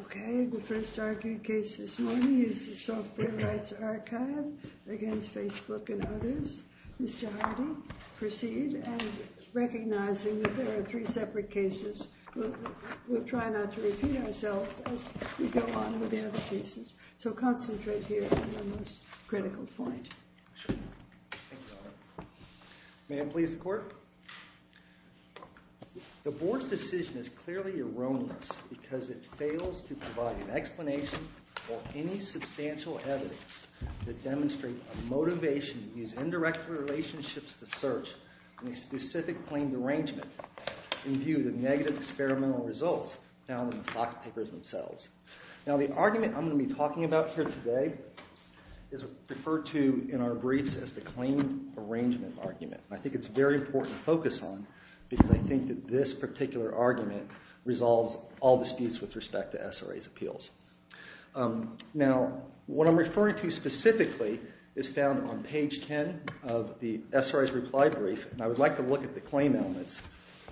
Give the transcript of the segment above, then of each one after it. Okay, the first argued case this morning is the Software Rights Archive v. Facebook, Inc. and others. Mr. Hardy, proceed. And recognizing that there are three separate cases, we'll try not to repeat ourselves as we go on with the other cases. So concentrate here on the most critical point. Thank you, Your Honor. May it please the Court? The Board's decision is clearly erroneous because it fails to provide an explanation or any substantial evidence to demonstrate a motivation to use indirect relationships to search in a specific claimed arrangement in view of the negative experimental results found in the Fox Papers themselves. Now, the argument I'm going to be talking about here today is referred to in our briefs as the claimed arrangement argument. I think it's very important to focus on because I think that this particular argument resolves all disputes with respect to SRA's appeals. Now, what I'm referring to specifically is found on page 10 of the SRA's reply brief, and I would like to look at the claim elements,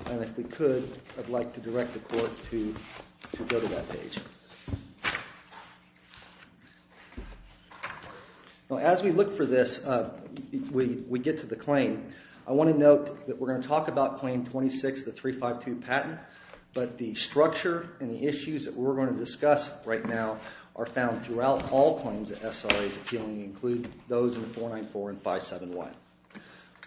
and if we could, I'd like to direct the Court to go to that page. Now, as we look for this, we get to the claim. I want to note that we're going to talk about Claim 26 of the 352 patent, but the structure and the issues that we're going to discuss right now are found throughout all claims that SRA's appealing, including those in 494 and 571.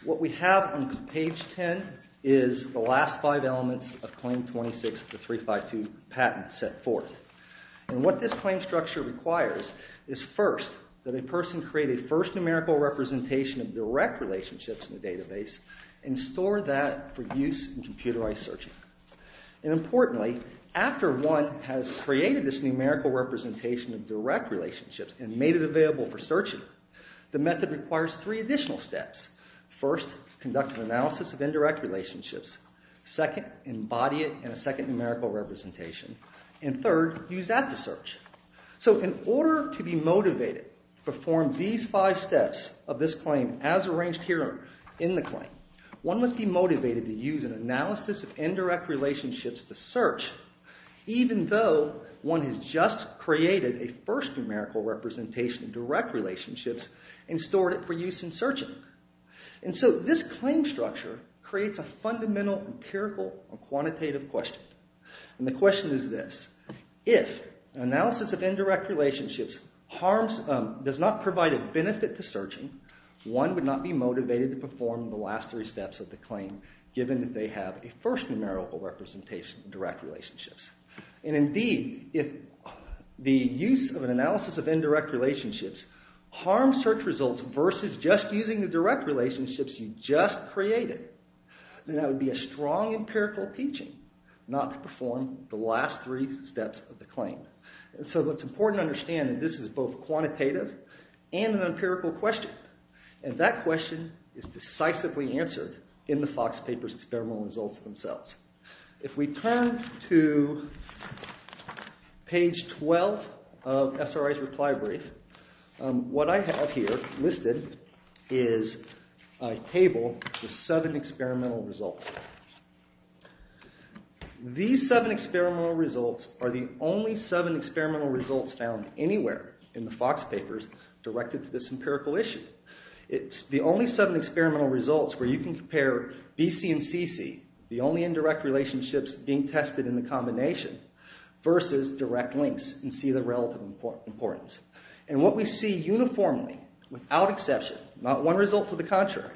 What we have on page 10 is the last five elements of Claim 26 of the 352 patent set forth. What this claim structure requires is, first, that a person create a first numerical representation of direct relationships in the database and store that for use in computerized searching. Importantly, after one has created this numerical representation of direct relationships and made it available for searching, the method requires three additional steps. First, conduct an analysis of indirect relationships. Second, embody it in a second numerical representation. Third, use that to search. In order to be motivated to perform these five steps of this claim as arranged here in the claim, one must be motivated to use an analysis of indirect relationships to search, even though one has just created a first numerical representation of direct relationships and stored it for use in searching. This claim structure creates a fundamental, empirical, and quantitative question. The question is this. If an analysis of indirect relationships does not provide a benefit to searching, one would not be motivated to perform the last three steps of the claim given that they have a first numerical representation of direct relationships. Indeed, if the use of an analysis of indirect relationships harms search results versus just using the direct relationships you just created, then that would be a strong empirical teaching not to perform the last three steps of the claim. So it's important to understand that this is both quantitative and an empirical question, and that question is decisively answered in the Fox paper's experimental results themselves. If we turn to page 12 of SRI's reply brief, what I have here listed is a table with seven experimental results. These seven experimental results are the only seven experimental results found anywhere in the Fox papers directed to this empirical issue. It's the only seven experimental results where you can compare BC and CC, the only indirect relationships being tested in the combination, versus direct links and see the relative importance. And what we see uniformly, without exception, not one result to the contrary,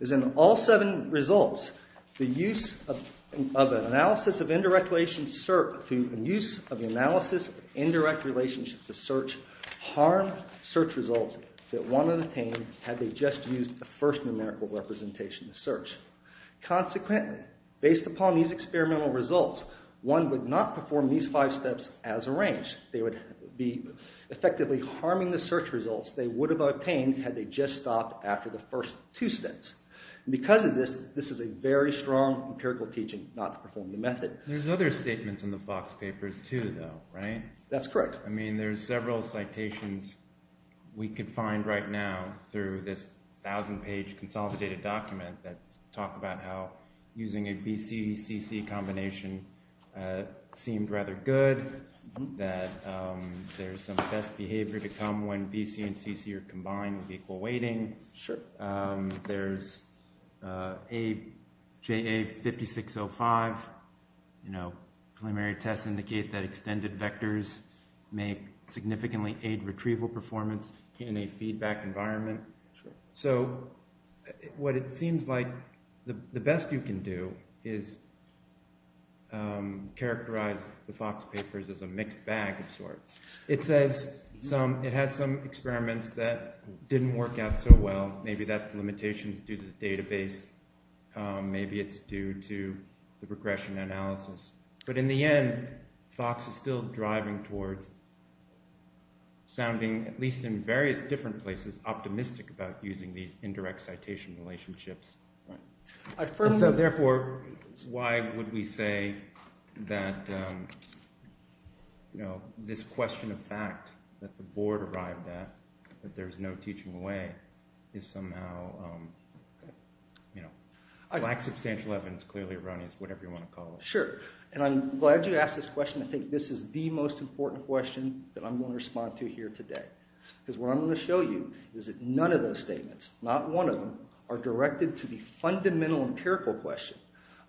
is in all seven results, the use of an analysis of indirect relations through the use of analysis of indirect relationships to search, harm search results that one would obtain had they just used the first numerical representation to search. Consequently, based upon these experimental results, one would not perform these five steps as arranged. They would be effectively harming the search results they would have obtained had they just stopped after the first two steps. Because of this, this is a very strong empirical teaching not to perform the method. There's other statements in the Fox papers too, though, right? That's correct. I mean, there's several citations we could find right now through this thousand-page consolidated document that talk about how using a BC-CC combination seemed rather good, that there's some test behavior to come when BC and CC are combined with equal weighting. Sure. There's JA 5605, you know, preliminary tests indicate that extended vectors may significantly aid retrieval performance in a feedback environment. So, what it seems like the best you can do is characterize the Fox papers as a mixed bag of sorts. It says it has some experiments that didn't work out so well. Maybe that's limitations due to the database. Maybe it's due to the regression analysis. But in the end, Fox is still driving towards sounding, at least in various different places, optimistic about using these indirect citation relationships. And so, therefore, why would we say that this question of fact that the board arrived at, that there's no teaching away, is somehow, you know, lack substantial evidence, clearly erroneous, whatever you want to call it. Sure. And I'm glad you asked this question. I think this is the most important question that I'm going to respond to here today. Because what I'm going to show you is that none of those statements, not one of them, are directed to the fundamental empirical question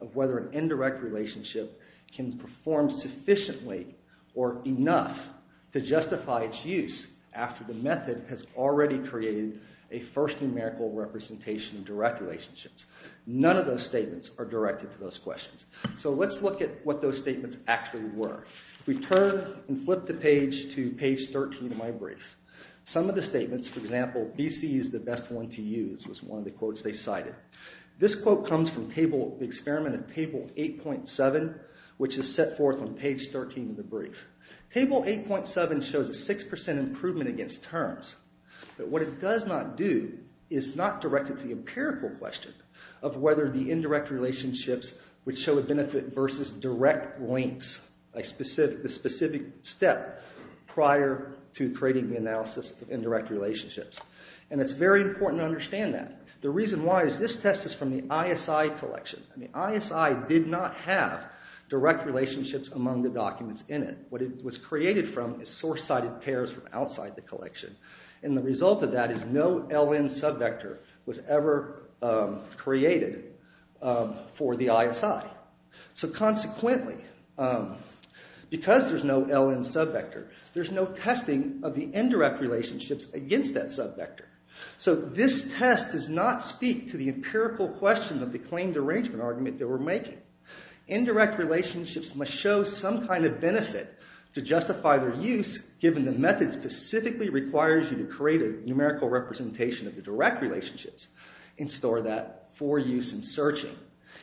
of whether an indirect relationship can perform sufficiently or enough to justify its use after the method has already created a first numerical representation of direct relationships. None of those statements are directed to those questions. So let's look at what those statements actually were. We turn and flip the page to page 13 of my brief. Some of the statements, for example, BC is the best one to use, was one of the quotes they cited. This quote comes from the experiment of table 8.7, which is set forth on page 13 of the brief. Table 8.7 shows a 6% improvement against terms. But what it does not do is not direct it to the empirical question of whether the indirect relationships would show a benefit versus direct links, the specific step prior to creating the analysis of indirect relationships. And it's very important to understand that. The reason why is this test is from the ISI collection. And the ISI did not have direct relationships among the documents in it. What it was created from is source-sided pairs from outside the collection. And the result of that is no LN subvector was ever created for the ISI. So consequently, because there's no LN subvector, there's no testing of the indirect relationships against that subvector. So this test does not speak to the empirical question of the claimed arrangement argument they were making. Indirect relationships must show some kind of benefit to justify their use given the method specifically requires you to create a numerical representation of the direct relationships and store that for use in searching.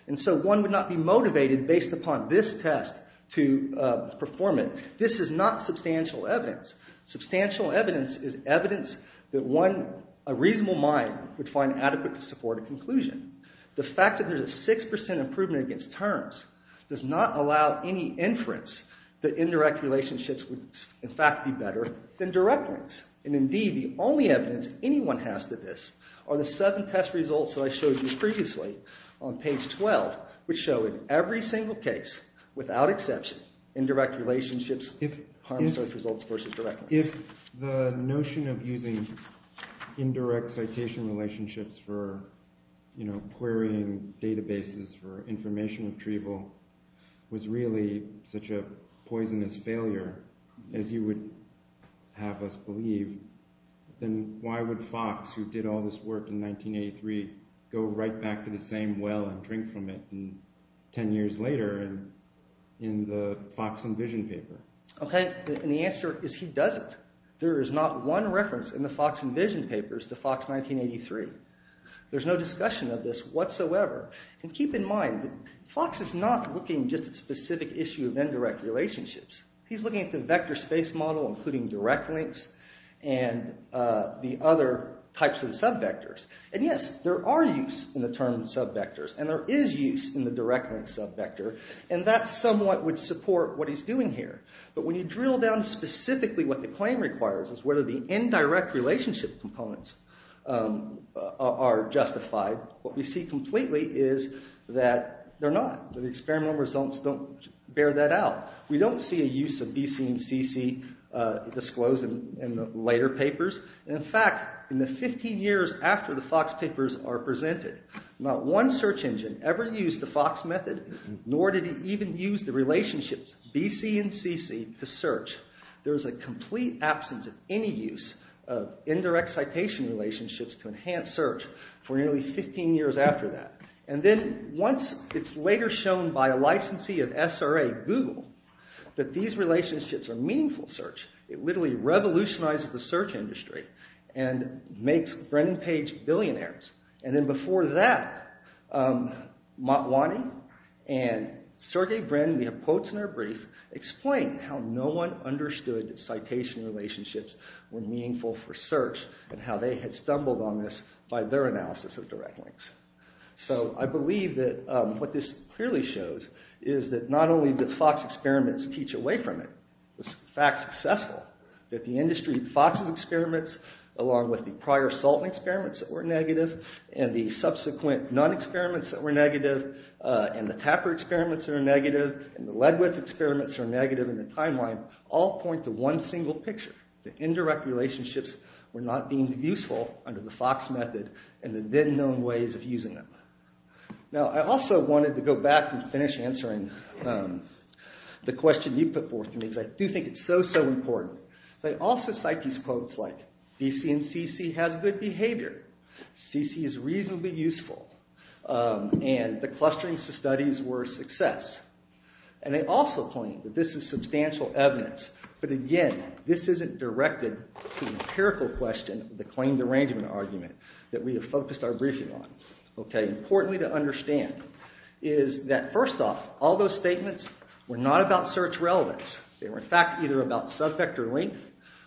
And so one would not be motivated based upon this test to perform it. This is not substantial evidence. Substantial evidence is evidence that a reasonable mind would find adequate to support a conclusion. The fact that there's a 6% improvement against terms does not allow any inference that indirect relationships would, in fact, be better than direct links. And indeed, the only evidence anyone has to this are the seven test results that I showed you previously on page 12, which show in every single case, without exception, indirect relationships harm search results versus direct links. If the notion of using indirect citation relationships for querying databases for information retrieval was really such a poisonous failure, as you would have us believe, then why would Fox, who did all this work in 1983, go right back to the same well and drink from it 10 years later in the Fox and Vision paper? Okay, and the answer is he doesn't. There is not one reference in the Fox and Vision papers to Fox 1983. There's no discussion of this whatsoever. And keep in mind, Fox is not looking just at specific issue of indirect relationships. He's looking at the vector space model, including direct links and the other types of subvectors. And yes, there are use in the term subvectors, and there is use in the direct link subvector, and that somewhat would support what he's doing here. But when you drill down to specifically what the claim requires is whether the indirect relationship components are justified, what we see completely is that they're not. The experimental results don't bear that out. We don't see a use of B, C, and C, C disclosed in the later papers. In fact, in the 15 years after the Fox papers are presented, not one search engine ever used the Fox method, nor did it even use the relationships B, C, and C, C to search. There is a complete absence of any use of indirect citation relationships to enhance search for nearly 15 years after that. And then once it's later shown by a licensee of SRA, Google, that these relationships are meaningful search, it literally revolutionizes the search industry and makes Brennan Page billionaires. And then before that, Motwani and Sergey Brennan, we have quotes in our brief, explain how no one understood that citation relationships were meaningful for search and how they had stumbled on this by their analysis of direct links. So I believe that what this clearly shows is that not only did Fox experiments teach away from it, it was in fact successful, that the industry, Fox's experiments, along with the prior Salton experiments that were negative, and the subsequent Nunn experiments that were negative, and the Tapper experiments that were negative, and the Ledwith experiments that were negative in the timeline, all point to one single picture. The indirect relationships were not deemed useful under the Fox method and the then-known ways of using them. Now I also wanted to go back and finish answering the question you put forth to me because I do think it's so, so important. They also cite these quotes like, DC and CC has good behavior, CC is reasonably useful, and the clustering studies were a success. And they also point that this is substantial evidence, but again, this isn't directed to the empirical question, the claim derangement argument, that we have focused our briefing on. Okay, importantly to understand is that first off, all those statements were not about search relevance. They were in fact either about subject or length,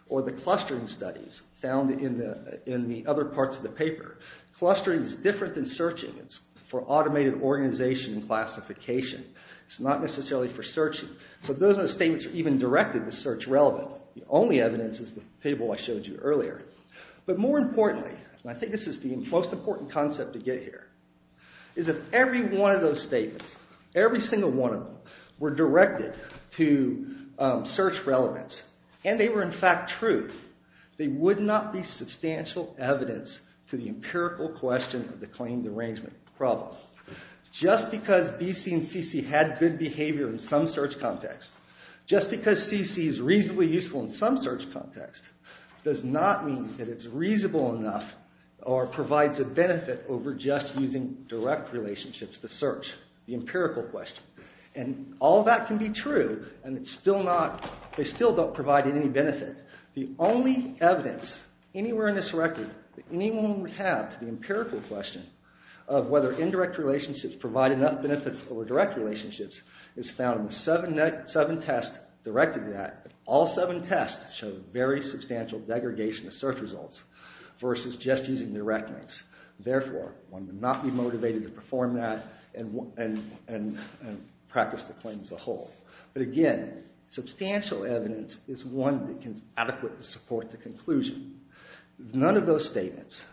or the clustering studies found in the other parts of the paper. Clustering is different than searching. It's for automated organization and classification. It's not necessarily for searching. So those statements are not even directed to search relevance. The only evidence is the table I showed you earlier. But more importantly, and I think this is the most important concept to get here, is if every one of those statements, every single one of them, were directed to search relevance, and they were in fact true, they would not be substantial evidence to the empirical question of the claim derangement problem. Just because BC and CC had good behavior in some search context, just because CC is reasonably useful in some search context, does not mean that it's reasonable enough or provides a benefit over just using direct relationships to search, the empirical question. And all that can be true, and they still don't provide any benefit. The only evidence anywhere in this record that anyone would have to the empirical question of whether indirect relationships provide enough benefits over direct relationships is found in the seven tests directed to that. All seven tests showed very substantial degradation of search results versus just using direct links. Therefore, one would not be motivated to perform that and practice the claim as a whole. But again, substantial evidence is one that can adequately support the conclusion. None of those statements,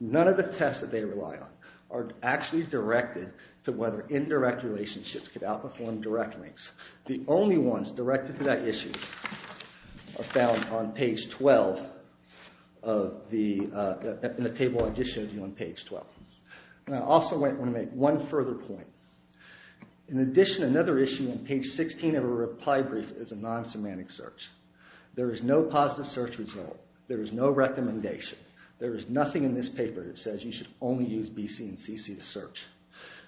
none of the tests that they rely on, are actually directed to whether indirect relationships could outperform direct links. The only ones directed to that issue are found on page 12 in the table I just showed you on page 12. And I also want to make one further point. In addition, another issue on page 16 of a reply brief is a non-semantic search. There is no positive search result. There is no recommendation. There is nothing in this paper that says you should only use B.C. and C.C. to search.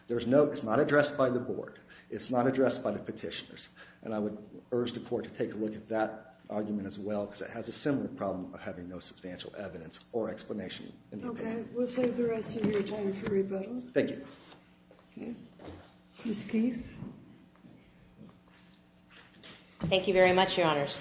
It's not addressed by the board. It's not addressed by the petitioners. And I would urge the court to take a look at that argument as well because it has a similar problem of having no substantial evidence or explanation. Okay. We'll save the rest of your time for rebuttal. Thank you. Ms. Keefe. Thank you very much, Your Honors.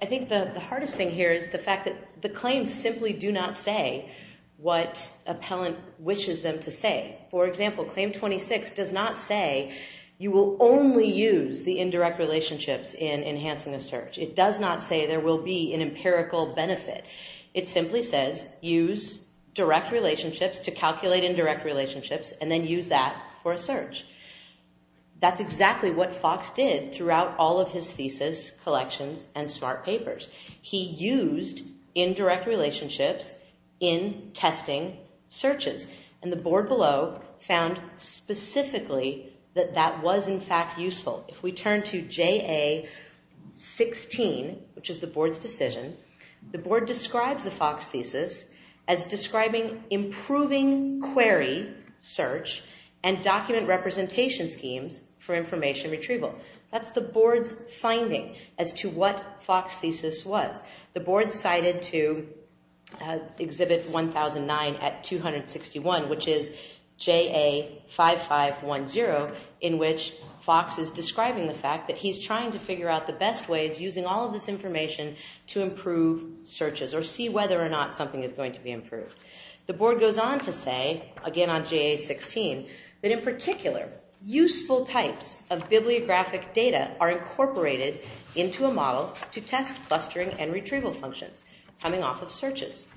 I think the hardest thing here is the fact that the claims simply do not say what appellant wishes them to say. For example, Claim 26 does not say you will only use the indirect relationships in enhancing a search. It does not say there will be an empirical benefit. It simply says use direct relationships to calculate indirect relationships and then use that for a search. That's exactly what Fox did throughout all of his thesis collections and smart papers. He used indirect relationships in testing searches. And the board below found specifically that that was, in fact, useful. If we turn to JA-16, which is the board's decision, the board describes the Fox thesis as describing improving query search and document representation schemes for information retrieval. That's the board's finding as to what Fox's thesis was. The board cited to Exhibit 1009 at 261, which is JA-5510, in which Fox is describing the fact that he's trying to figure out the best ways using all of this information to improve searches or see whether or not something is going to be improved. The board goes on to say, again on JA-16, that in particular, useful types of bibliographic data are incorporated into a model to test clustering and retrieval functions coming off of searches.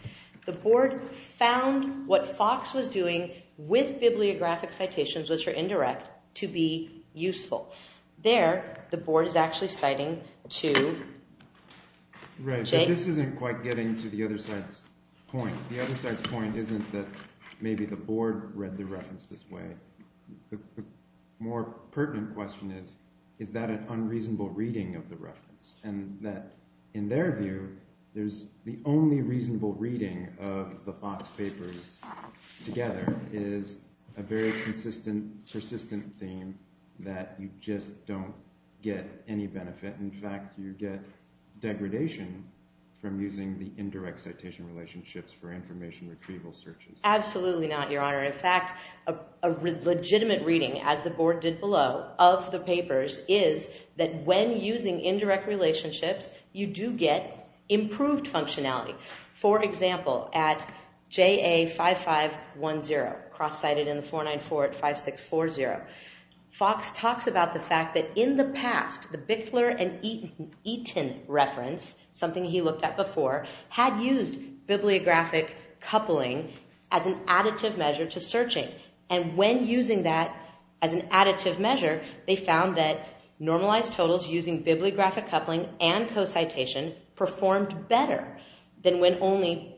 The board found what Fox was doing with bibliographic citations, which are indirect, to be useful. There, the board is actually citing to... Right, so this isn't quite getting to the other side's point. The other side's point isn't that maybe the board read the reference this way. The more pertinent question is, is that an unreasonable reading of the reference? And that, in their view, the only reasonable reading of the Fox papers together is a very consistent, persistent theme that you just don't get any benefit. In fact, you get degradation from using the indirect citation relationships for information retrieval searches. Absolutely not, Your Honor. In fact, a legitimate reading, as the board did below, of the papers is that when using indirect relationships, you do get improved functionality. For example, at JA5510, cross-cited in 494 at 5640, Fox talks about the fact that in the past, the Bickler and Eaton reference, something he looked at before, had used bibliographic coupling as an additive measure to searching. And when using that as an additive measure, they found that normalized totals using bibliographic coupling and co-citation performed better than when only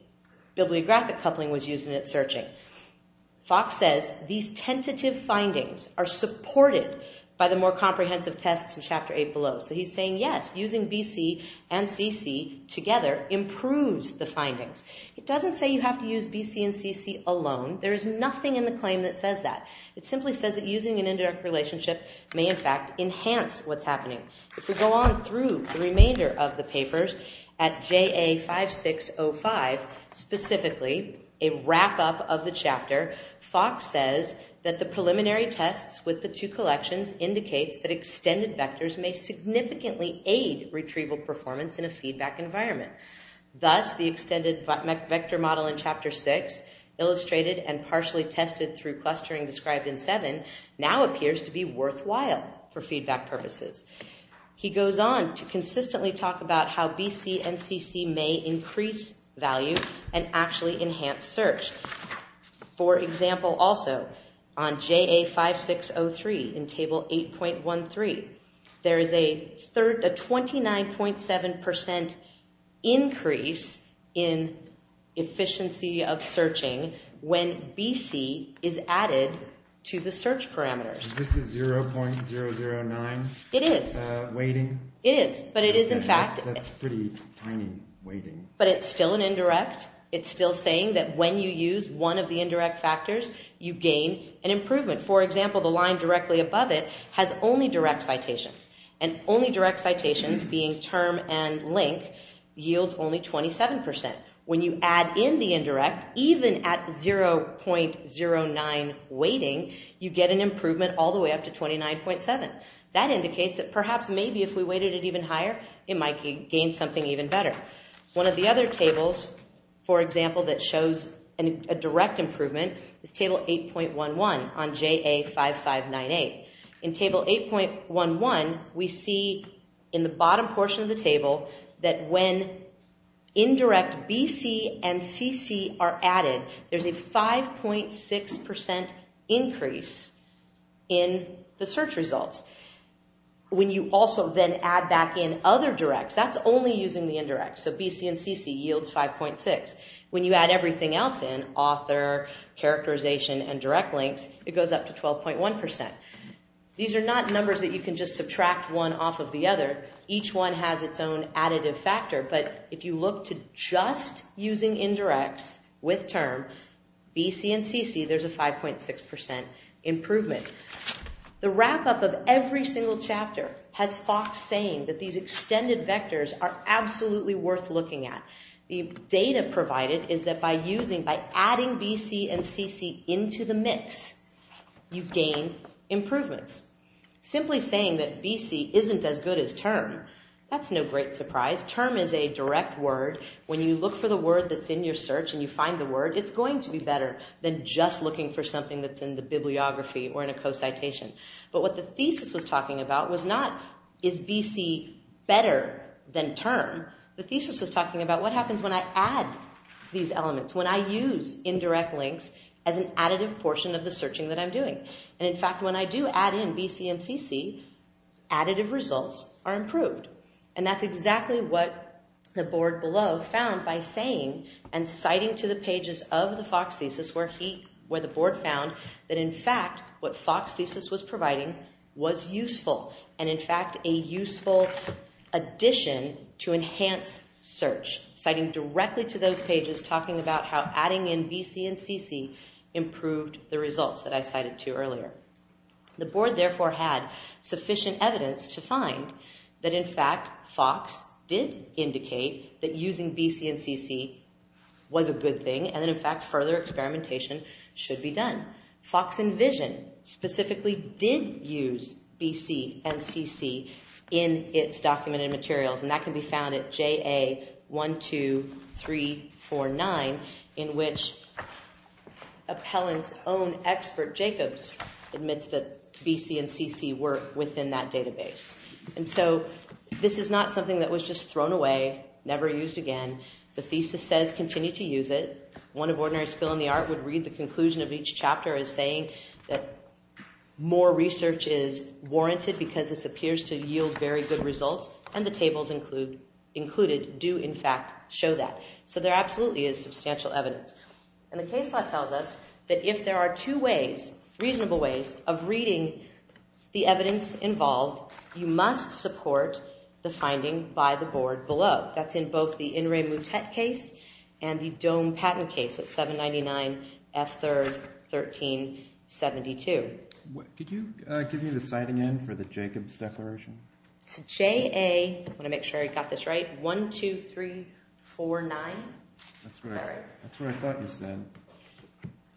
bibliographic coupling was used in its searching. Fox says these tentative findings are supported by the more comprehensive tests in Chapter 8 below. So he's saying, yes, using BC and CC together improves the findings. It doesn't say you have to use BC and CC alone. There is nothing in the claim that says that. It simply says that using an indirect relationship may, in fact, enhance what's happening. If we go on through the remainder of the papers, at JA5605 specifically, a wrap-up of the chapter, Fox says that the preliminary tests with the two collections indicates that extended vectors may significantly aid retrieval performance in a feedback environment. Thus, the extended vector model in Chapter 6 illustrated and partially tested through clustering described in 7 now appears to be worthwhile for feedback purposes. He goes on to consistently talk about how BC and CC may increase value and actually enhance search. For example, also, on JA5603 in Table 8.13, there is a 29.7% increase in efficiency of searching when BC is added to the search parameters. Is this the 0.009 weighting? It is, but it is in fact... That's pretty tiny weighting. But it's still an indirect. It's still saying that when you use one of the indirect factors, you gain an improvement. For example, the line directly above it has only direct citations. And only direct citations, being term and link, yields only 27%. When you add in the indirect, even at 0.09 weighting, you get an improvement all the way up to 29.7. That indicates that perhaps maybe if we weighted it even higher, it might gain something even better. One of the other tables, for example, that shows a direct improvement is Table 8.11 on JA5598. In Table 8.11, we see in the bottom portion of the table that when indirect BC and CC are added, there's a 5.6% increase in the search results. When you also then add back in other directs, that's only using the indirect. So BC and CC yields 5.6. When you add everything else in, author, characterization, and direct links, it goes up to 12.1%. These are not numbers that you can just subtract one off of the other. Each one has its own additive factor. But if you look to just using indirects with term, BC and CC, there's a 5.6% improvement. The wrap-up of every single chapter has Fox saying that these extended vectors are absolutely worth looking at. The data provided is that by using, by adding BC and CC into the mix, you gain improvements. Simply saying that BC isn't as good as term, that's no great surprise. Term is a direct word. When you look for the word that's in your search and you find the word, it's going to be better than just looking for something that's in the bibliography or in a co-citation. But what the thesis was talking about was not is BC better than term. The thesis was talking about what happens when I add these elements, when I use indirect links as an additive portion of the searching that I'm doing. And in fact, when I do add in BC and CC, additive results are improved. And that's exactly what the board below found by saying and citing to the pages of the Fox thesis where the board found that in fact what Fox thesis was providing was useful and in fact a useful addition to enhance search. Citing directly to those pages, talking about how adding in BC and CC improved the results that I cited to earlier. The board therefore had sufficient evidence to find that in fact Fox did indicate that using BC and CC was a good thing and that in fact further experimentation should be done. Fox Envision specifically did use BC and CC in its documented materials and that can be found at JA12349 in which Appellant's own expert, Jacobs, admits that BC and CC were within that database. And so this is not something that was just thrown away, never used again. The thesis says continue to use it. One of ordinary skill in the art would read the conclusion of each chapter as saying that more research is warranted because this appears to yield very good results and the tables included do in fact show that. So there absolutely is substantial evidence. And the case law tells us that if there are two ways, reasonable ways, of reading the evidence involved, you must support the finding by the board below. That's in both the In Re Mutet case and the Dome Patent case at 799 F3rd 1372. Could you give me the citing end for the Jacobs declaration? It's JA, I want to make sure I got this right, 12349? That's what I thought you said.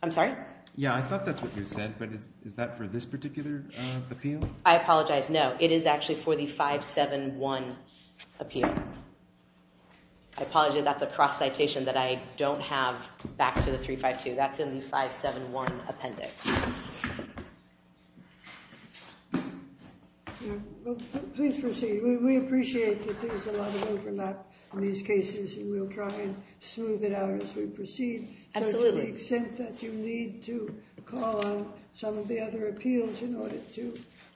I'm sorry? Yeah, I thought that's what you said, but is that for this particular appeal? I apologize, no. It is actually for the 571 appeal. I apologize, that's a cross citation that I don't have back to the 352. That's in the 571 appendix. Please proceed. We appreciate that there's a lot of overlap in these cases, and we'll try and smooth it out as we proceed. Absolutely. So to the extent that you need to call on some of the other appeals in order to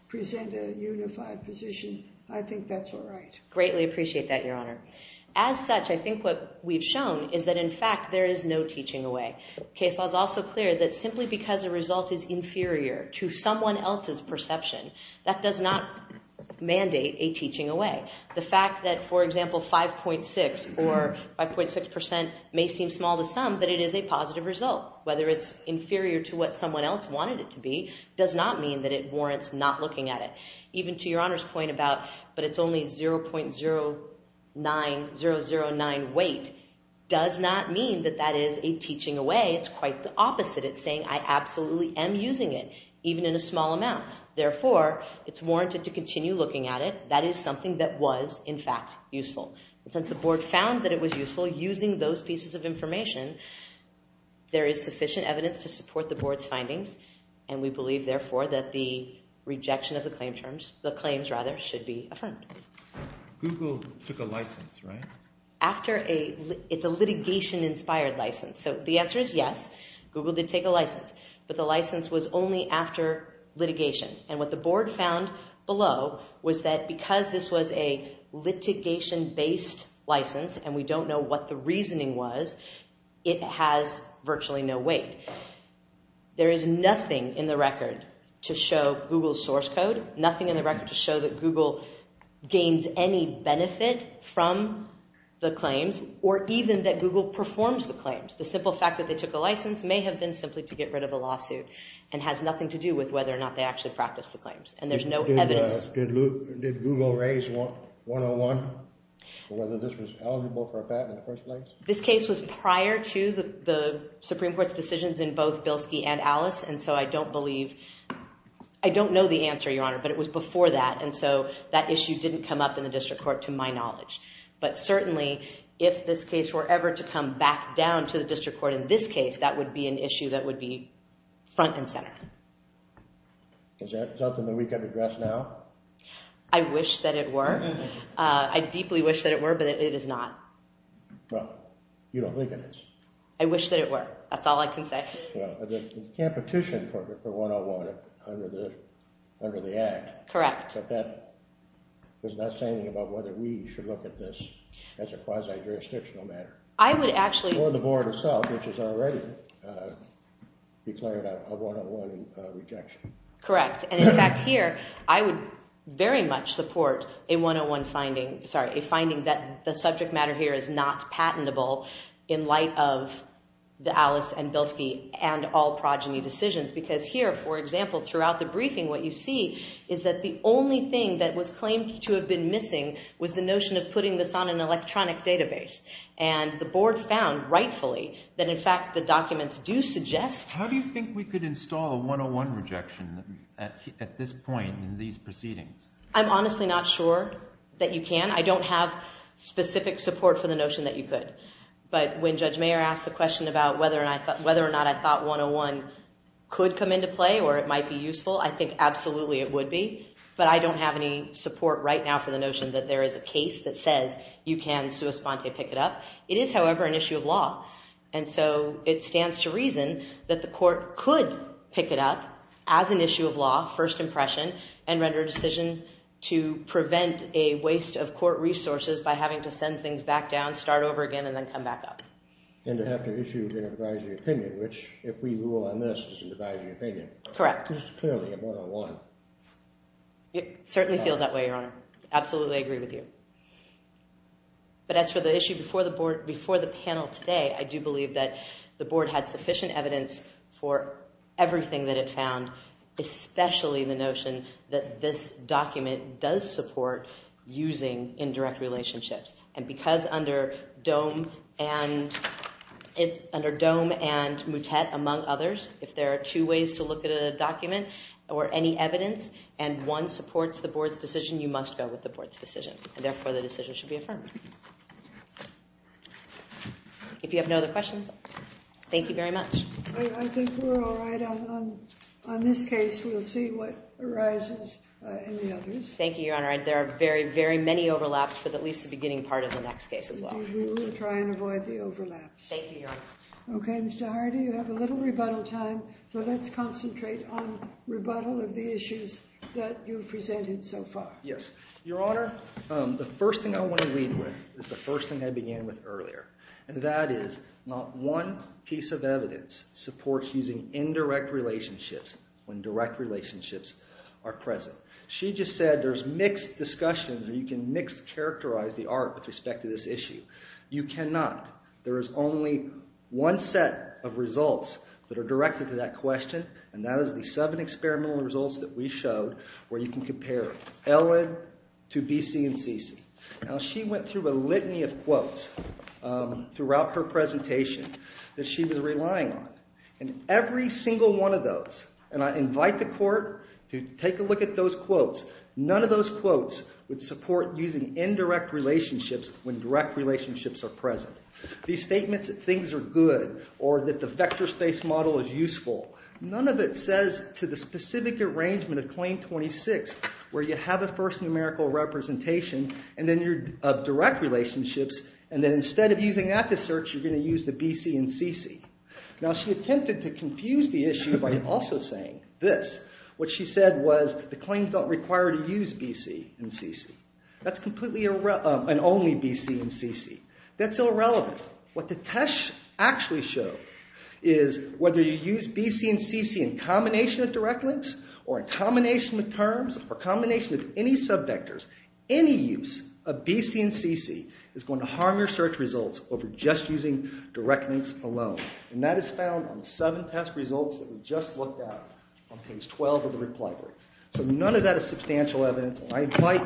present a unified position, I think that's all right. Greatly appreciate that, Your Honor. As such, I think what we've shown is that in fact there is no teaching away. Case law is also clear that simply because a result is inferior to someone else's perception, that does not mandate a teaching away. The fact that, for example, 5.6% may seem small to some, but it is a positive result. Whether it's inferior to what someone else wanted it to be does not mean that it warrants not looking at it. Even to Your Honor's point about but it's only 0.009 weight does not mean that that is a teaching away. It's quite the opposite. It's saying I absolutely am using it, even in a small amount. Therefore, it's warranted to continue looking at it. That is something that was, in fact, useful. Since the Board found that it was useful using those pieces of information, there is sufficient evidence to support the Board's findings, and we believe, therefore, that the rejection of the claims should be affirmed. Google took a license, right? It's a litigation-inspired license. So the answer is yes, Google did take a license, but the license was only after litigation, and what the Board found below was that because this was a litigation-based license and we don't know what the reasoning was, it has virtually no weight. There is nothing in the record to show Google's source code, nothing in the record to show that Google gains any benefit from the claims or even that Google performs the claims. The simple fact that they took a license may have been simply to get rid of a lawsuit and has nothing to do with whether or not they actually practiced the claims, and there's no evidence. Did Google raise 101 for whether this was eligible for a patent in the first place? This case was prior to the Supreme Court's decisions in both Bilski and Alice, and so I don't believe... I don't know the answer, Your Honor, but it was before that, and so that issue didn't come up in the district court, to my knowledge. But certainly, if this case were ever to come back down to the district court in this case, that would be an issue that would be front and center. Is that something that we can address now? I wish that it were. I deeply wish that it were, but it is not. Well, you don't believe it is. I wish that it were. That's all I can say. Well, the competition for 101 under the Act... Correct. But that does not say anything about whether we should look at this as a quasi-jurisdictional matter. I would actually... Or the board itself, which has already declared a 101 rejection. Correct. And, in fact, here, I would very much support a 101 finding... Sorry, a finding that the subject matter here is not patentable in light of the Alice and Bilski and all progeny decisions, because here, for example, throughout the briefing, what you see is that the only thing that was claimed to have been missing was the notion of putting this on an electronic database, and the board found, rightfully, that, in fact, the documents do suggest... How do you think we could install a 101 rejection at this point in these proceedings? I'm honestly not sure that you can. I don't have specific support for the notion that you could, but when Judge Mayer asked the question about whether or not I thought 101 could come into play or it might be useful, I think absolutely it would be, but I don't have any support right now for the notion that there is a case that says you can sua sponte, pick it up. It is, however, an issue of law, and so it stands to reason that the court could pick it up as an issue of law, first impression, and render a decision to prevent a waste of court resources by having to send things back down, start over again, and then come back up. And to have to issue an advisory opinion, which, if we rule on this, is an advisory opinion. Correct. This is clearly a 101. It certainly feels that way, Your Honor. Absolutely agree with you. But as for the issue before the board, before the panel today, I do believe that the board had sufficient evidence for everything that it found, especially the notion that this document does support using indirect relationships. And because under DOME and MUTET, among others, if there are two ways to look at a document or any evidence and one supports the board's decision, you must go with the board's decision, and therefore the decision should be affirmed. If you have no other questions, thank you very much. I think we're all right on this case. We'll see what arises in the others. Thank you, Your Honor. There are very, very many overlaps for at least the beginning part of the next case as well. We will try and avoid the overlaps. Thank you, Your Honor. Okay, Mr. Hardy, you have a little rebuttal time, so let's concentrate on rebuttal of the issues that you've presented so far. Yes. Your Honor, the first thing I want to lead with is the first thing I began with earlier, and that is not one piece of evidence supports using indirect relationships when direct relationships are present. She just said there's mixed discussions where you can mixed characterize the art with respect to this issue. You cannot. There is only one set of results that are directed to that question, and that is the seven experimental results that we showed where you can compare Ellen to B.C. and C.C. Now, she went through a litany of quotes throughout her presentation that she was relying on, and every single one of those, and I invite the court to take a look at those quotes, none of those quotes would support using indirect relationships when direct relationships are present. These statements that things are good or that the vector space model is useful, none of it says to the specific arrangement of claim 26 where you have a first numerical representation of direct relationships, and then instead of using that to search, you're going to use the B.C. and C.C. Now, she attempted to confuse the issue by also saying this. What she said was the claims don't require to use B.C. and C.C. That's completely an only B.C. and C.C. That's irrelevant. What the test actually showed is whether you use B.C. and C.C. in combination of direct links or in combination with terms or combination with any subvectors, any use of B.C. and C.C. is going to harm your search results over just using direct links alone, and that is found on the seven test results that we just looked at on page 12 of the reply book. So none of that is substantial evidence, and I invite...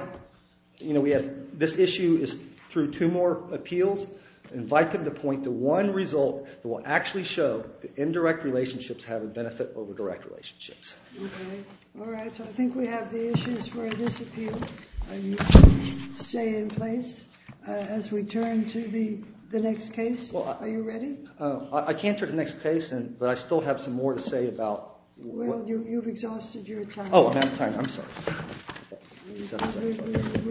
This issue is through two more appeals. I invite them to point to one result that will actually show that indirect relationships have a benefit over direct relationships. Okay. All right. So I think we have the issues for this appeal. You can stay in place as we turn to the next case. Well, I... Are you ready? I can't turn to the next case, but I still have some more to say about... Well, you've exhausted your time. Oh, I'm out of time. I'm sorry. I'm sorry.